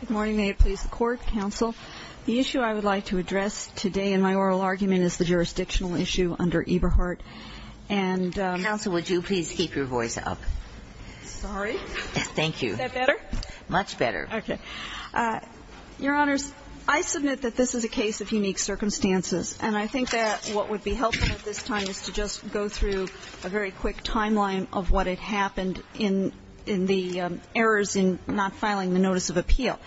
Good morning. May it please the Court. Counsel, the issue I would like to address today in my oral argument is the jurisdictional issue under Eberhardt and Counsel, would you please keep your voice up? Sorry. Thank you. Is that better? Much better. Okay. Your Honors, I submit that this is a case of unique circumstances and I think that what would be helpful at this time is to just go through a very quick timeline of what had happened in the errors in not filing the notice of appeal.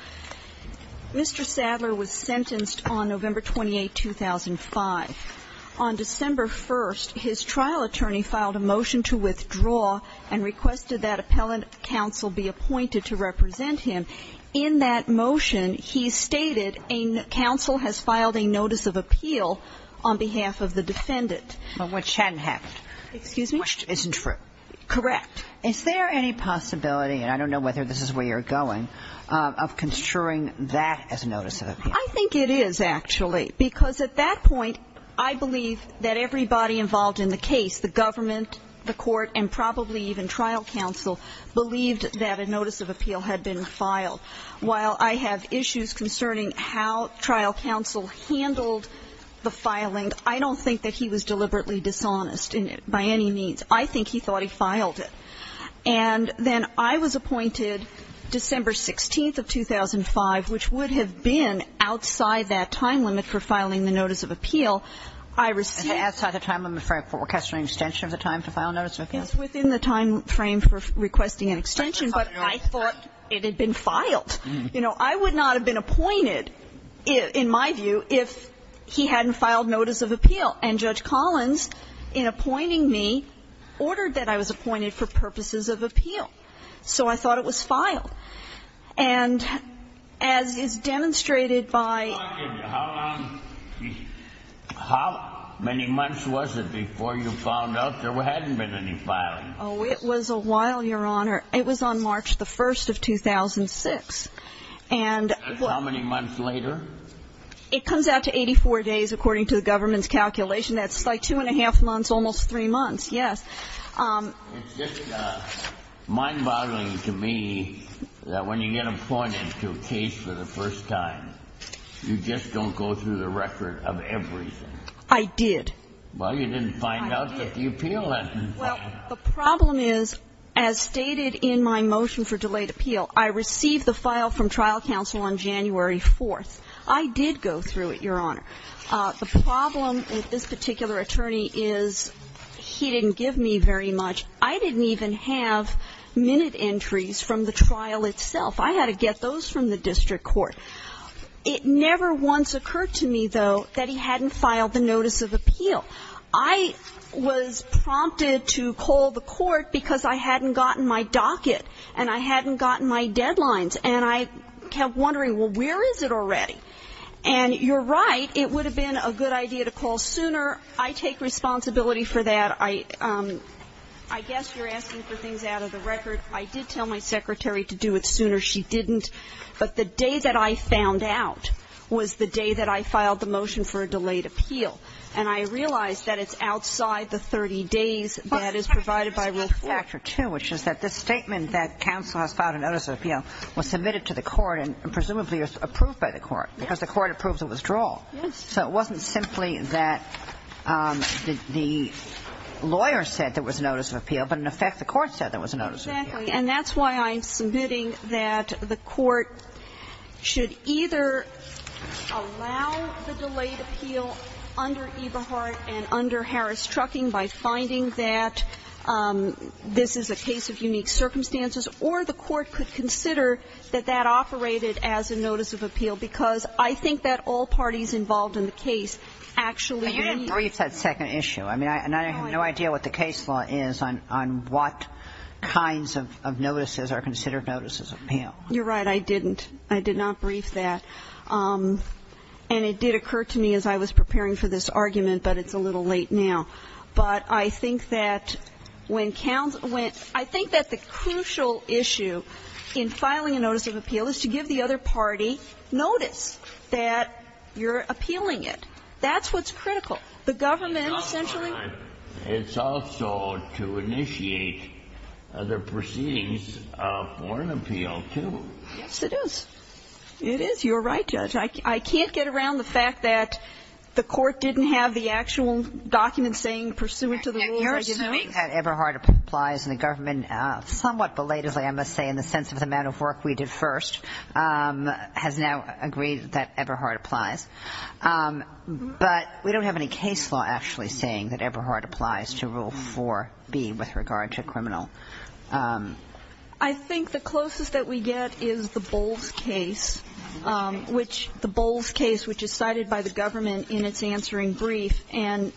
Mr. Sadler was sentenced on November 28, 2005. On December 1, his trial attorney filed a motion to withdraw and requested that appellant counsel be appointed to represent him. In that motion, he stated a counsel has filed a notice of appeal on behalf of the defendant. Which hadn't happened. Excuse me? Which isn't true. Correct. Is there any possibility, and I don't know whether this is where you're going, of construing that as a notice of appeal? I think it is, actually, because at that point, I believe that everybody involved in the case, the government, the court, and probably even trial counsel, believed that a notice of appeal had been filed. While I have issues concerning how trial counsel handled the filing, I don't think that he was deliberately dishonest by any means. I think he thought he filed it. And then I was appointed December 16 of 2005, which would have been outside that time limit for filing the notice of appeal. I received Outside the time limit for requesting an extension of the time to file a notice of appeal? Within the time frame for requesting an extension, but I thought it had been filed. You know, I would not have been appointed, in my view, if he hadn't filed notice of appeal. And Judge Collins, in appointing me, ordered that I was appointed for purposes of appeal. So I thought it was filed. And as is demonstrated by Well, I'll give you, how long, how many months was it before you found out there hadn't been any filing? Oh, it was a while, Your Honor. It was on March the 1st of 2006. And how many months later? It comes out to 84 days, according to the government's calculation. That's like two and a half months, almost three months. Yes. It's just mind-boggling to me that when you get appointed to a case for the first time, you just don't go through the record of everything. I did. Well, you didn't find out that the appeal hadn't been filed. Well, the problem is, as stated in my motion for delayed appeal, I received the file from trial counsel on January 4th. I did go through it, Your Honor. The problem with this particular attorney is he didn't give me very much. I didn't even have minute entries from the trial itself. I had to get those from the district court. It never once occurred to me, though, that he hadn't filed the notice of appeal. I was prompted to call the court because I hadn't gotten my docket and I hadn't gotten my deadlines. And I kept wondering, well, where is it already? And you're right, it would have been a good idea to call sooner. I take responsibility for that. I guess you're asking for things out of the record. I did tell my secretary to do it sooner. She didn't. But the day that I found out was the day that I filed the motion for a delayed appeal. And I realized that it's outside the 30 days that is provided by Rule 4. But Secretary, there's another factor, too, which is that this statement that counsel has filed a notice of appeal was submitted to the court and presumably was approved by the court because the court approved the withdrawal. Yes. So it wasn't simply that the lawyer said there was a notice of appeal, but in effect the court said there was a notice of appeal. Exactly. And that's why I'm submitting that the court should either allow the delayed appeal under Eberhardt and under Harris-Trucking by finding that this is a case of unique circumstances, or the court could consider that that operated as a notice of appeal, because I think that all parties involved in the case actually agree. But you didn't brief that second issue. I mean, I have no idea what the case law is on what kinds of notices are considered notices of appeal. You're right. I didn't. I did not brief that. And it did occur to me as I was preparing for this argument, but it's a little late now. But I think that when counsel went – I think that the crucial issue in filing a notice of appeal is to give the other party notice that you're appealing it. That's what's critical. The government essentially – Yes, it is. It is. You're right, Judge. I can't get around the fact that the court didn't have the actual document saying pursuant to the rules, I didn't know that Eberhardt applies, and the government somewhat belatedly, I must say, in the sense of the amount of work we did first, has now agreed that Eberhardt applies. But we don't have any case law actually saying that Eberhardt applies to Rule 4B with regard to criminal. I think the closest that we get is the Bowles case, which – the Bowles case, which is cited by the government in its answering brief. And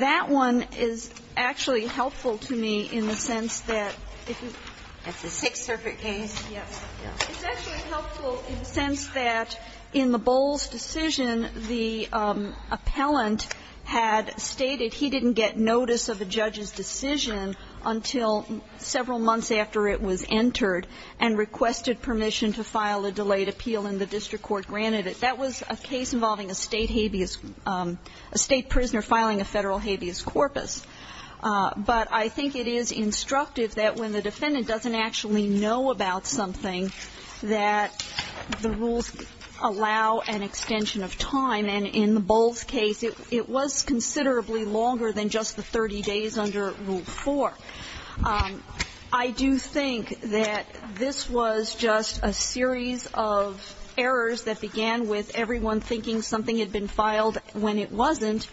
that one is actually helpful to me in the sense that if you – That's the Sixth Circuit case? Yes. It's actually helpful in the sense that in the Bowles decision, the appellant had stated he didn't get notice of a judge's decision until several months after it was entered and requested permission to file a delayed appeal, and the district court granted it. That was a case involving a State habeas – a State prisoner filing a Federal habeas corpus. But I think it is instructive that when the defendant doesn't actually know about something, that the rules allow an extension of time. And in the Bowles case, it was considerably longer than just the 30 days under Rule 4. I do think that this was just a series of errors that began with everyone thinking something had been filed when it wasn't.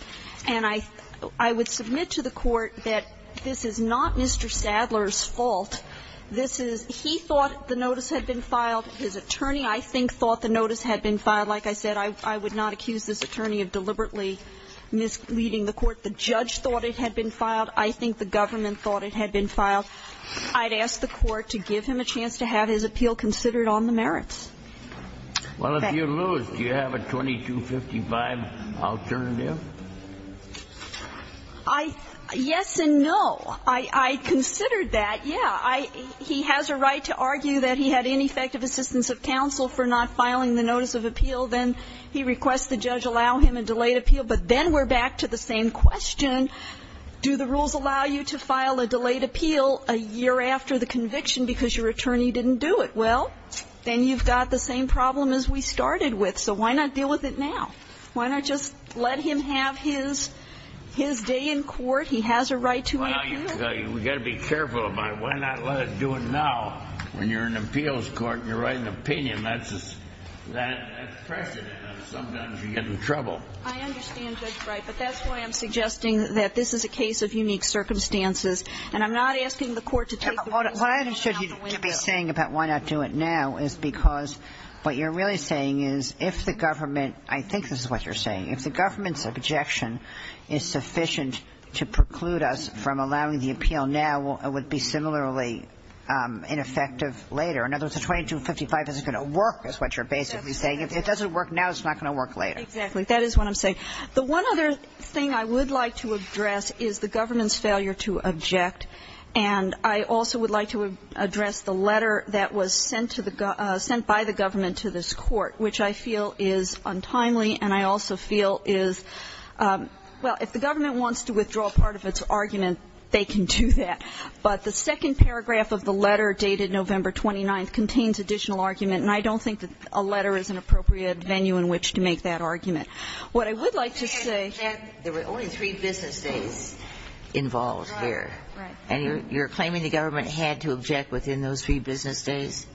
And I would submit to the Court that this is not Mr. Sadler's fault. This is – he thought the notice had been filed. His attorney, I think, thought the notice had been filed. Like I said, I would not accuse this attorney of deliberately misleading the Court. The judge thought it had been filed. I think the government thought it had been filed. I'd ask the Court to give him a chance to have his appeal considered on the merits. Well, if you lose, do you have a 2255 alternative? I – yes and no. I considered that, yeah. I – he has a right to argue that he had ineffective assistance of counsel for not filing the notice of appeal. Then he requests the judge allow him a delayed appeal. But then we're back to the same question. Do the rules allow you to file a delayed appeal a year after the conviction because your attorney didn't do it? Well, then you've got the same problem as we started with. So why not deal with it now? Why not just let him have his – his day in court? He has a right to appeal. Well, you've got to be careful about it. Why not let him do it now when you're in appeals court and you're writing an opinion? That's precedent. Sometimes you get in trouble. I understand, Judge Brey, but that's why I'm suggesting that this is a case of unique circumstances. And I'm not asking the Court to take the rules and put them out the window. What I understood you to be saying about why not do it now is because what you're really saying is if the government – I think this is what you're saying – if the government's objection is sufficient to preclude us from allowing the appeal now, it would be similarly ineffective later. In other words, a 2255 isn't going to work is what you're basically saying. If it doesn't work now, it's not going to work later. Exactly. That is what I'm saying. The one other thing I would like to address is the government's failure to object. And I also would like to address the letter that was sent to the – sent by the government to this Court, which I feel is untimely and I also feel is – well, if the government wants to withdraw part of its argument, they can do that. But the second paragraph of the letter dated November 29th contains additional argument, and I don't think that a letter is an appropriate venue in which to make that argument. What I would like to say – There were only three business days involved here. Right. Right. And you're claiming the government had to object within those three business days?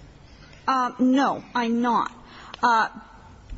No, I'm not.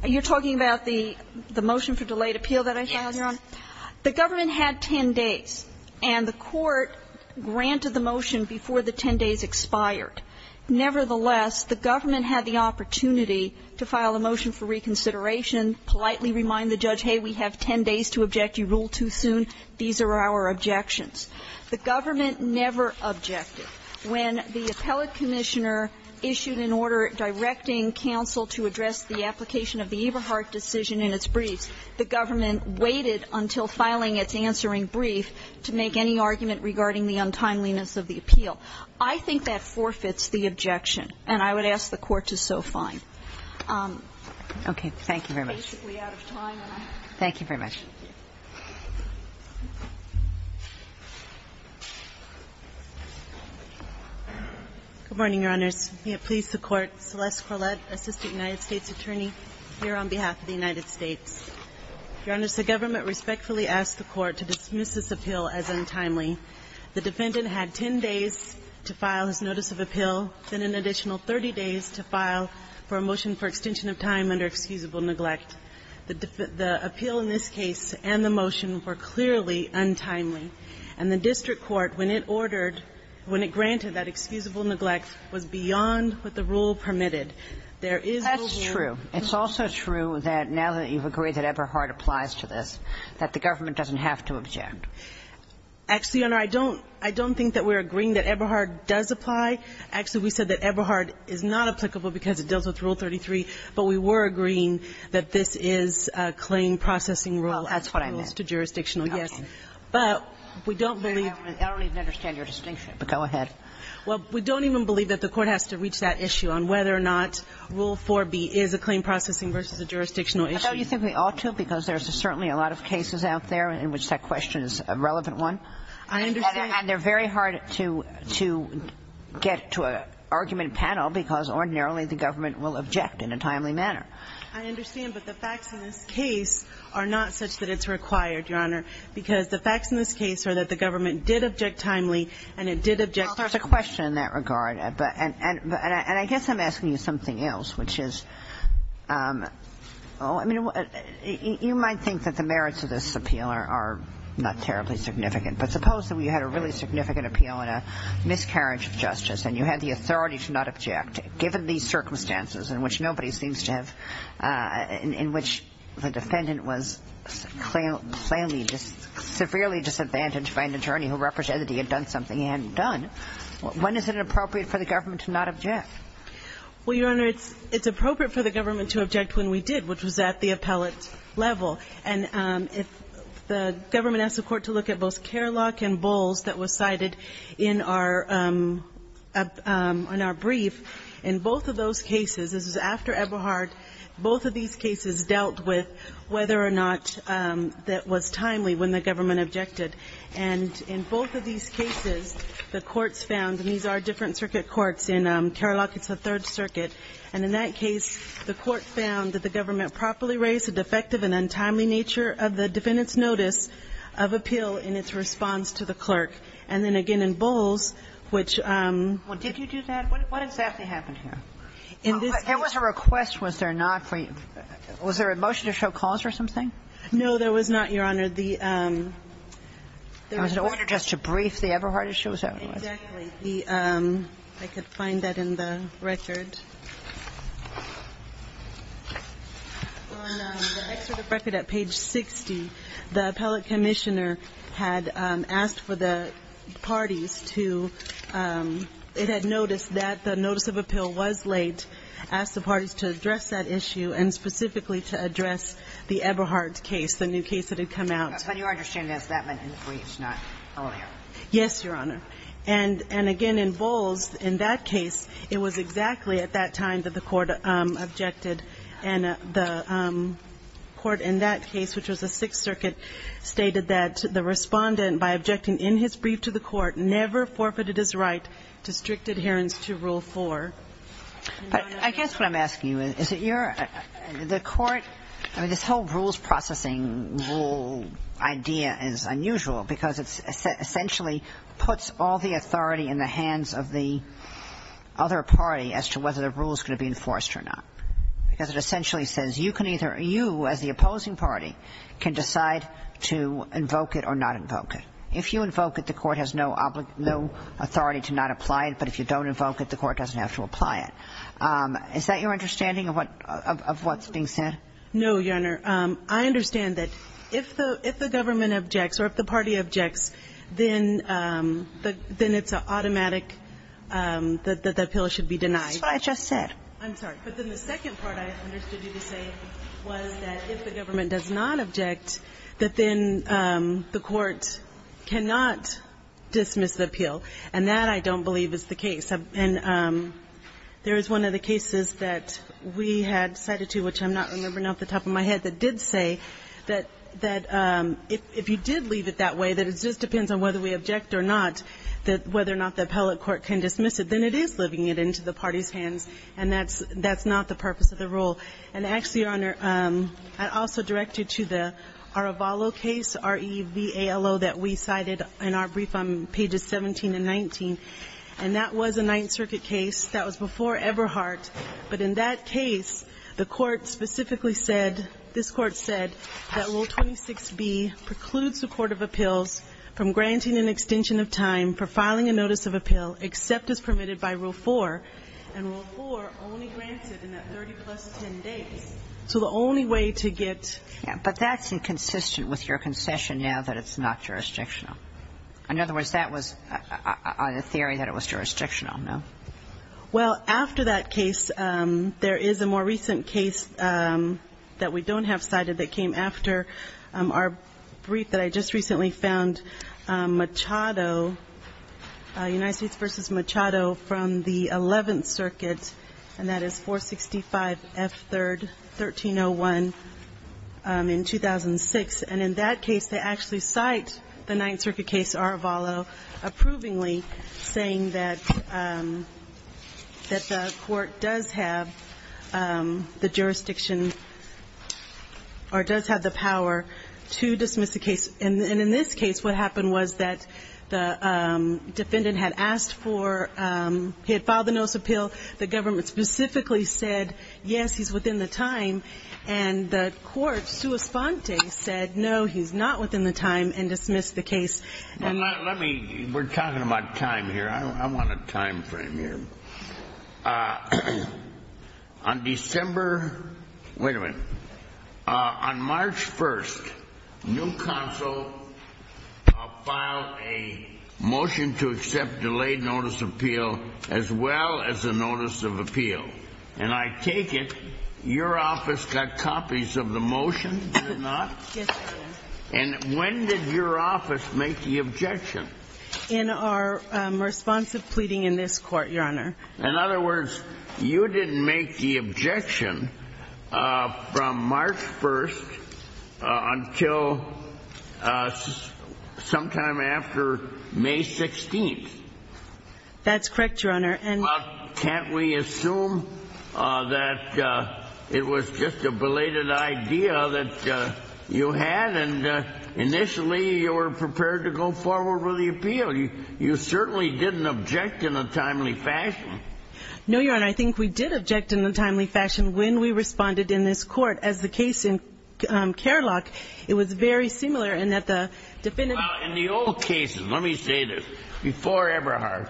You're talking about the motion for delayed appeal that I filed, Your Honor? Yes. The government had 10 days, and the Court granted the motion before the 10 days expired. Nevertheless, the government had the opportunity to file a motion for reconsideration, politely remind the judge, hey, we have 10 days to object, you rule too soon, these are our objections. The government never objected. When the appellate commissioner issued an order directing counsel to address the application of the Eberhardt decision in its briefs, the government waited until filing its answering brief to make any argument regarding the untimeliness of the appeal. I think that forfeits the objection, and I would ask the Court to so that the court can make a decision on the following. Okay. Thank you very much. I'm basically out of time. Thank you very much. Thank you. Good morning, Your Honors. May it please the Court, Celeste Corlett, assistant United States attorney here on behalf of the United States. Your Honors, the government respectfully asked the Court to dismiss this appeal as untimely. The defendant had 10 days to file his notice of appeal, then an additional 30 days to file for a motion for extension of time under excusable neglect. The appeal in this case and the motion were clearly untimely. And the district court, when it ordered, when it granted that excusable neglect was beyond what the rule permitted. There is no guarantee. That's true. It's also true that now that you've agreed that Eberhardt applies to this, that the government doesn't have to object. Actually, Your Honor, I don't think that we're agreeing that Eberhardt does apply. Actually, we said that Eberhardt is not applicable because it deals with Rule 33. But we were agreeing that this is a claim processing rule. Well, that's what I meant. Rules to jurisdictional, yes. Okay. But we don't believe that. I don't even understand your distinction, but go ahead. Well, we don't even believe that the Court has to reach that issue on whether or not Rule 4b is a claim processing versus a jurisdictional issue. I thought you said we ought to because there's certainly a lot of cases out there in which that question is a relevant one. I understand. And they're very hard to get to an argument panel because ordinarily the government will object in a timely manner. I understand. But the facts in this case are not such that it's required, Your Honor, because the facts in this case are that the government did object timely and it did object timely. Well, there's a question in that regard. And I guess I'm asking you something else, which is, oh, I mean, you might think that the merits of this appeal are not terribly significant. But suppose that we had a really significant appeal and a miscarriage of justice and you had the authority to not object. Given these circumstances in which nobody seems to have – in which the defendant was severely disadvantaged by an attorney who represented he had done something he hadn't done, when is it appropriate for the government to not object? Well, Your Honor, it's appropriate for the government to object when we did, which was at the appellate level. And if the government asked the court to look at both Kerloch and Bowles that was cited in our brief, in both of those cases, this was after Eberhard, both of these cases dealt with whether or not that was timely when the government objected. And in both of these cases, the courts found, and these are different circuit courts, in Kerloch it's the Third Circuit. And in that case, the court found that the government properly raised a defective and untimely nature of the defendant's notice of appeal in its response to the clerk. And then again in Bowles, which – Well, did you do that? What exactly happened here? In this case – There was a request, was there not, for you – was there a motion to show cause or something? No, there was not, Your Honor. The – There was an order just to brief the Eberhard issue? Exactly. I could find that in the record. On the excerpt of record at page 60, the appellate commissioner had asked for the parties to – it had noticed that the notice of appeal was late, asked the parties to address that issue and specifically to address the Eberhard case, the new case that had come out. But your understanding is that meant in the briefs, not earlier? Yes, Your Honor. And again in Bowles, in that case, it was exactly at that time that the court objected and the court in that case, which was the Sixth Circuit, stated that the respondent by objecting in his brief to the court never forfeited his right to strict adherence to Rule 4. I guess what I'm asking you is that you're – the court – I mean, this whole rules processing rule idea is unusual because it essentially puts all the authority in the hands of the other party as to whether the rule is going to be enforced or not, because it essentially says you can either – you as the opposing party can decide to invoke it or not invoke it. If you invoke it, the court has no authority to not apply it, but if you don't invoke it, the court doesn't have to apply it. Is that your understanding of what's being said? No, Your Honor. I understand that if the government objects or if the party objects, then it's automatic that the appeal should be denied. That's what I just said. I'm sorry. But then the second part I understood you to say was that if the government does not object, that then the court cannot dismiss the appeal, and that I don't believe is the case. There is one of the cases that we had cited to, which I'm not remembering off the top of my head, that did say that if you did leave it that way, that it just depends on whether we object or not, whether or not the appellate court can dismiss it. Then it is living it into the party's hands, and that's not the purpose of the rule. And actually, Your Honor, I also directed you to the Aravalo case, R-E-V-A-L-O, that we cited in our brief on pages 17 and 19. And that was a Ninth Circuit case. That was before Eberhardt. But in that case, the court specifically said, this Court said, that Rule 26B precludes the court of appeals from granting an extension of time for filing a notice of appeal except as permitted by Rule 4, and Rule 4 only grants it in that 30 plus 10 days. So the only way to get to the court of appeals is to grant an extension of time. But that's inconsistent with your concession now that it's not jurisdictional. In other words, that was a theory that it was jurisdictional, no? Well, after that case, there is a more recent case that we don't have cited that came after our brief that I just recently found, Machado, United States v. Machado from the Eleventh Circuit, and that is 465 F. 3rd, 1301, in 2006. And in that case, they actually cite the Ninth Circuit case, Arvalo, approvingly saying that the court does have the jurisdiction or does have the power to dismiss the case. And in this case, what happened was that the defendant had asked for he had filed the notice of appeal. The government specifically said, yes, he's within the time. And the court, sua sponte, said, no, he's not within the time, and dismissed the case. Let me we're talking about time here. I want a time frame here. On December, wait a minute, on March 1st, new counsel filed a motion to accept delayed notice of appeal as well as a notice of appeal. And I take it your office got copies of the motion, did it not? Yes, Your Honor. And when did your office make the objection? In our response to pleading in this court, Your Honor. In other words, you didn't make the objection from March 1st until sometime after May 16th. That's correct, Your Honor. Well, can't we assume that it was just a belated idea that you had? And initially, you were prepared to go forward with the appeal. You certainly didn't object in a timely fashion. No, Your Honor. I think we did object in a timely fashion when we responded in this court. As the case in Kerlock, it was very similar in that the defendant Well, in the old cases, let me say this. Before Eberhardt,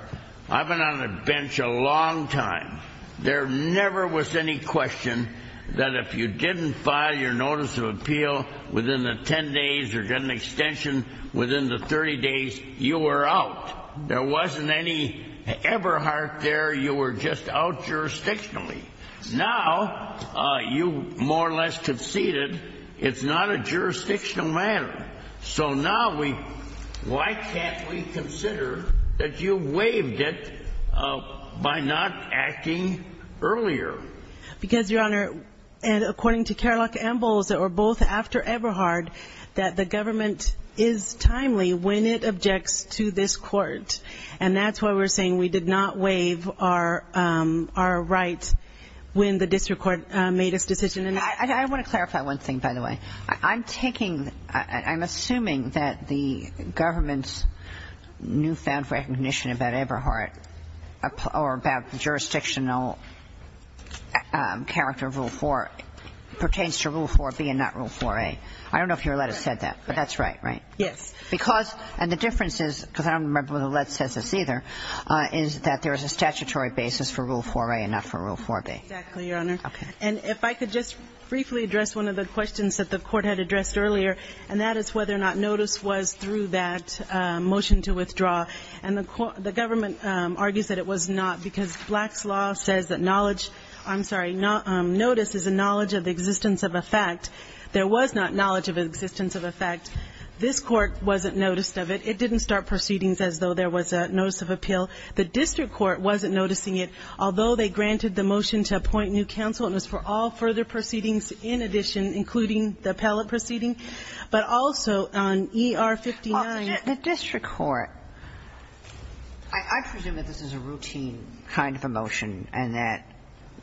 I've been on the bench a long time. There never was any question that if you didn't file your notice of appeal within the 10 days or get an extension within the 30 days, you were out. There wasn't any Eberhardt there. You were just out jurisdictionally. Now, you more or less conceded. It's not a jurisdictional matter. So now, why can't we consider that you waived it by not acting earlier? Because, Your Honor, and according to Kerlock and Bowles that were both after Eberhardt, that the government is timely when it objects to this court. And that's why we're saying we did not waive our rights when the district court made its decision. I want to clarify one thing, by the way. I'm taking, I'm assuming that the government's newfound recognition about Eberhardt or about the jurisdictional character of Rule 4 pertains to Rule 4b and not Rule 4a. I don't know if Your Lett has said that, but that's right, right? Yes. Because, and the difference is, because I don't remember whether Lett says this either, is that there is a statutory basis for Rule 4a and not for Rule 4b. Exactly, Your Honor. Okay. And if I could just briefly address one of the questions that the court had addressed earlier, and that is whether or not notice was through that motion to withdraw. And the government argues that it was not because Black's Law says that knowledge, I'm sorry, notice is a knowledge of the existence of a fact. There was not knowledge of the existence of a fact. This court wasn't noticed of it. It didn't start proceedings as though there was a notice of appeal. The district court wasn't noticing it. Although they granted the motion to appoint new counsel, it was for all further proceedings in addition, including the appellate proceeding, but also on ER-59. The district court, I presume that this is a routine kind of a motion and that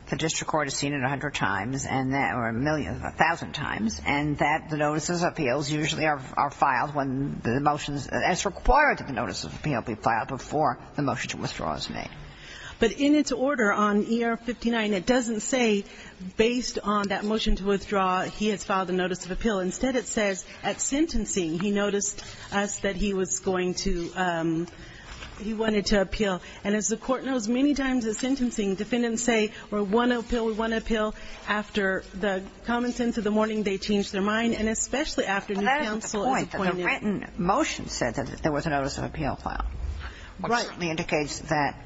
the district court has seen it a hundred times or a million, a thousand times, and that the notices of appeals usually are filed when the motions as required to the notices of appeal be filed before the motion to withdraw is made. But in its order on ER-59, it doesn't say based on that motion to withdraw, he has filed a notice of appeal. Instead, it says at sentencing he noticed us that he was going to – he wanted to appeal. And as the court knows, many times at sentencing defendants say we want to appeal, we want to appeal. After the common sense of the morning, they change their mind, and especially after new counsel is appointed. But that's the point. The written motion said that there was a notice of appeal filed. Right. And that certainly indicates that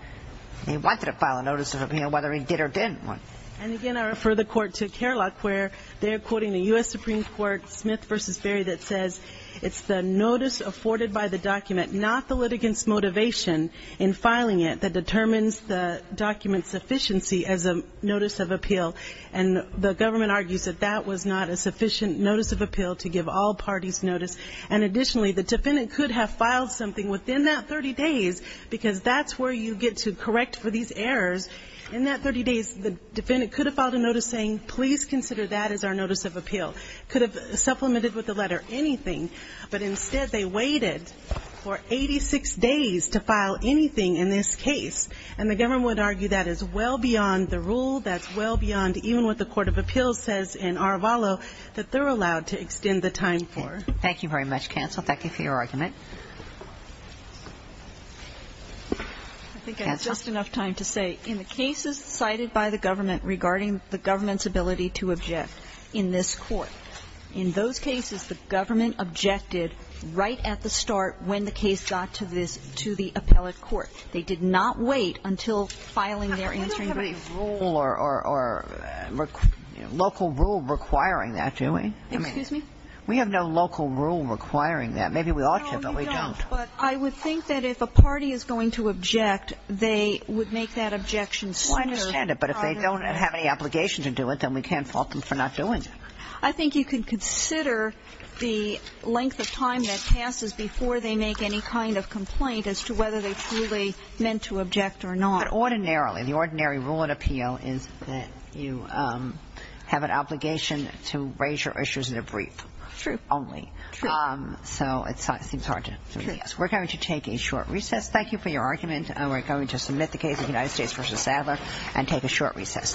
he wanted to file a notice of appeal, whether he did or didn't want to. And again, I refer the court to Kerlock where they're quoting the U.S. Supreme Court Smith v. Berry that says it's the notice afforded by the document, not the litigant's motivation in filing it, that determines the document's sufficiency as a notice of appeal. And the government argues that that was not a sufficient notice of appeal to give all parties notice. And additionally, the defendant could have filed something within that 30 days because that's where you get to correct for these errors. In that 30 days, the defendant could have filed a notice saying, please consider that as our notice of appeal. Could have supplemented with the letter anything. But instead, they waited for 86 days to file anything in this case. And the government would argue that is well beyond the rule, that's well beyond even what the court of appeals says in Arvalo that they're allowed to extend the time for. Thank you very much, Counsel. Thank you for your argument. Counsel. I think I have just enough time to say, in the cases cited by the government regarding the government's ability to object in this court, in those cases, the government objected right at the start when the case got to this to the appellate court. They did not wait until filing their answering brief. We don't have any rule or local rule requiring that, do we? Excuse me? We have no local rule requiring that. Maybe we ought to, but we don't. No, you don't. But I would think that if a party is going to object, they would make that objection sooner rather than later. Well, I understand it. But if they don't have any obligation to do it, then we can't fault them for not doing it. I think you can consider the length of time that passes before they make any kind of complaint as to whether they truly meant to object or not. But ordinarily, the ordinary rule in appeal is that you have an obligation to raise your issues in a brief. True. Only. True. So it seems hard to me. Yes. We're going to take a short recess. Thank you for your argument. And we're going to submit the case of United States v. Sadler and take a short recess. Thank you. Thank you.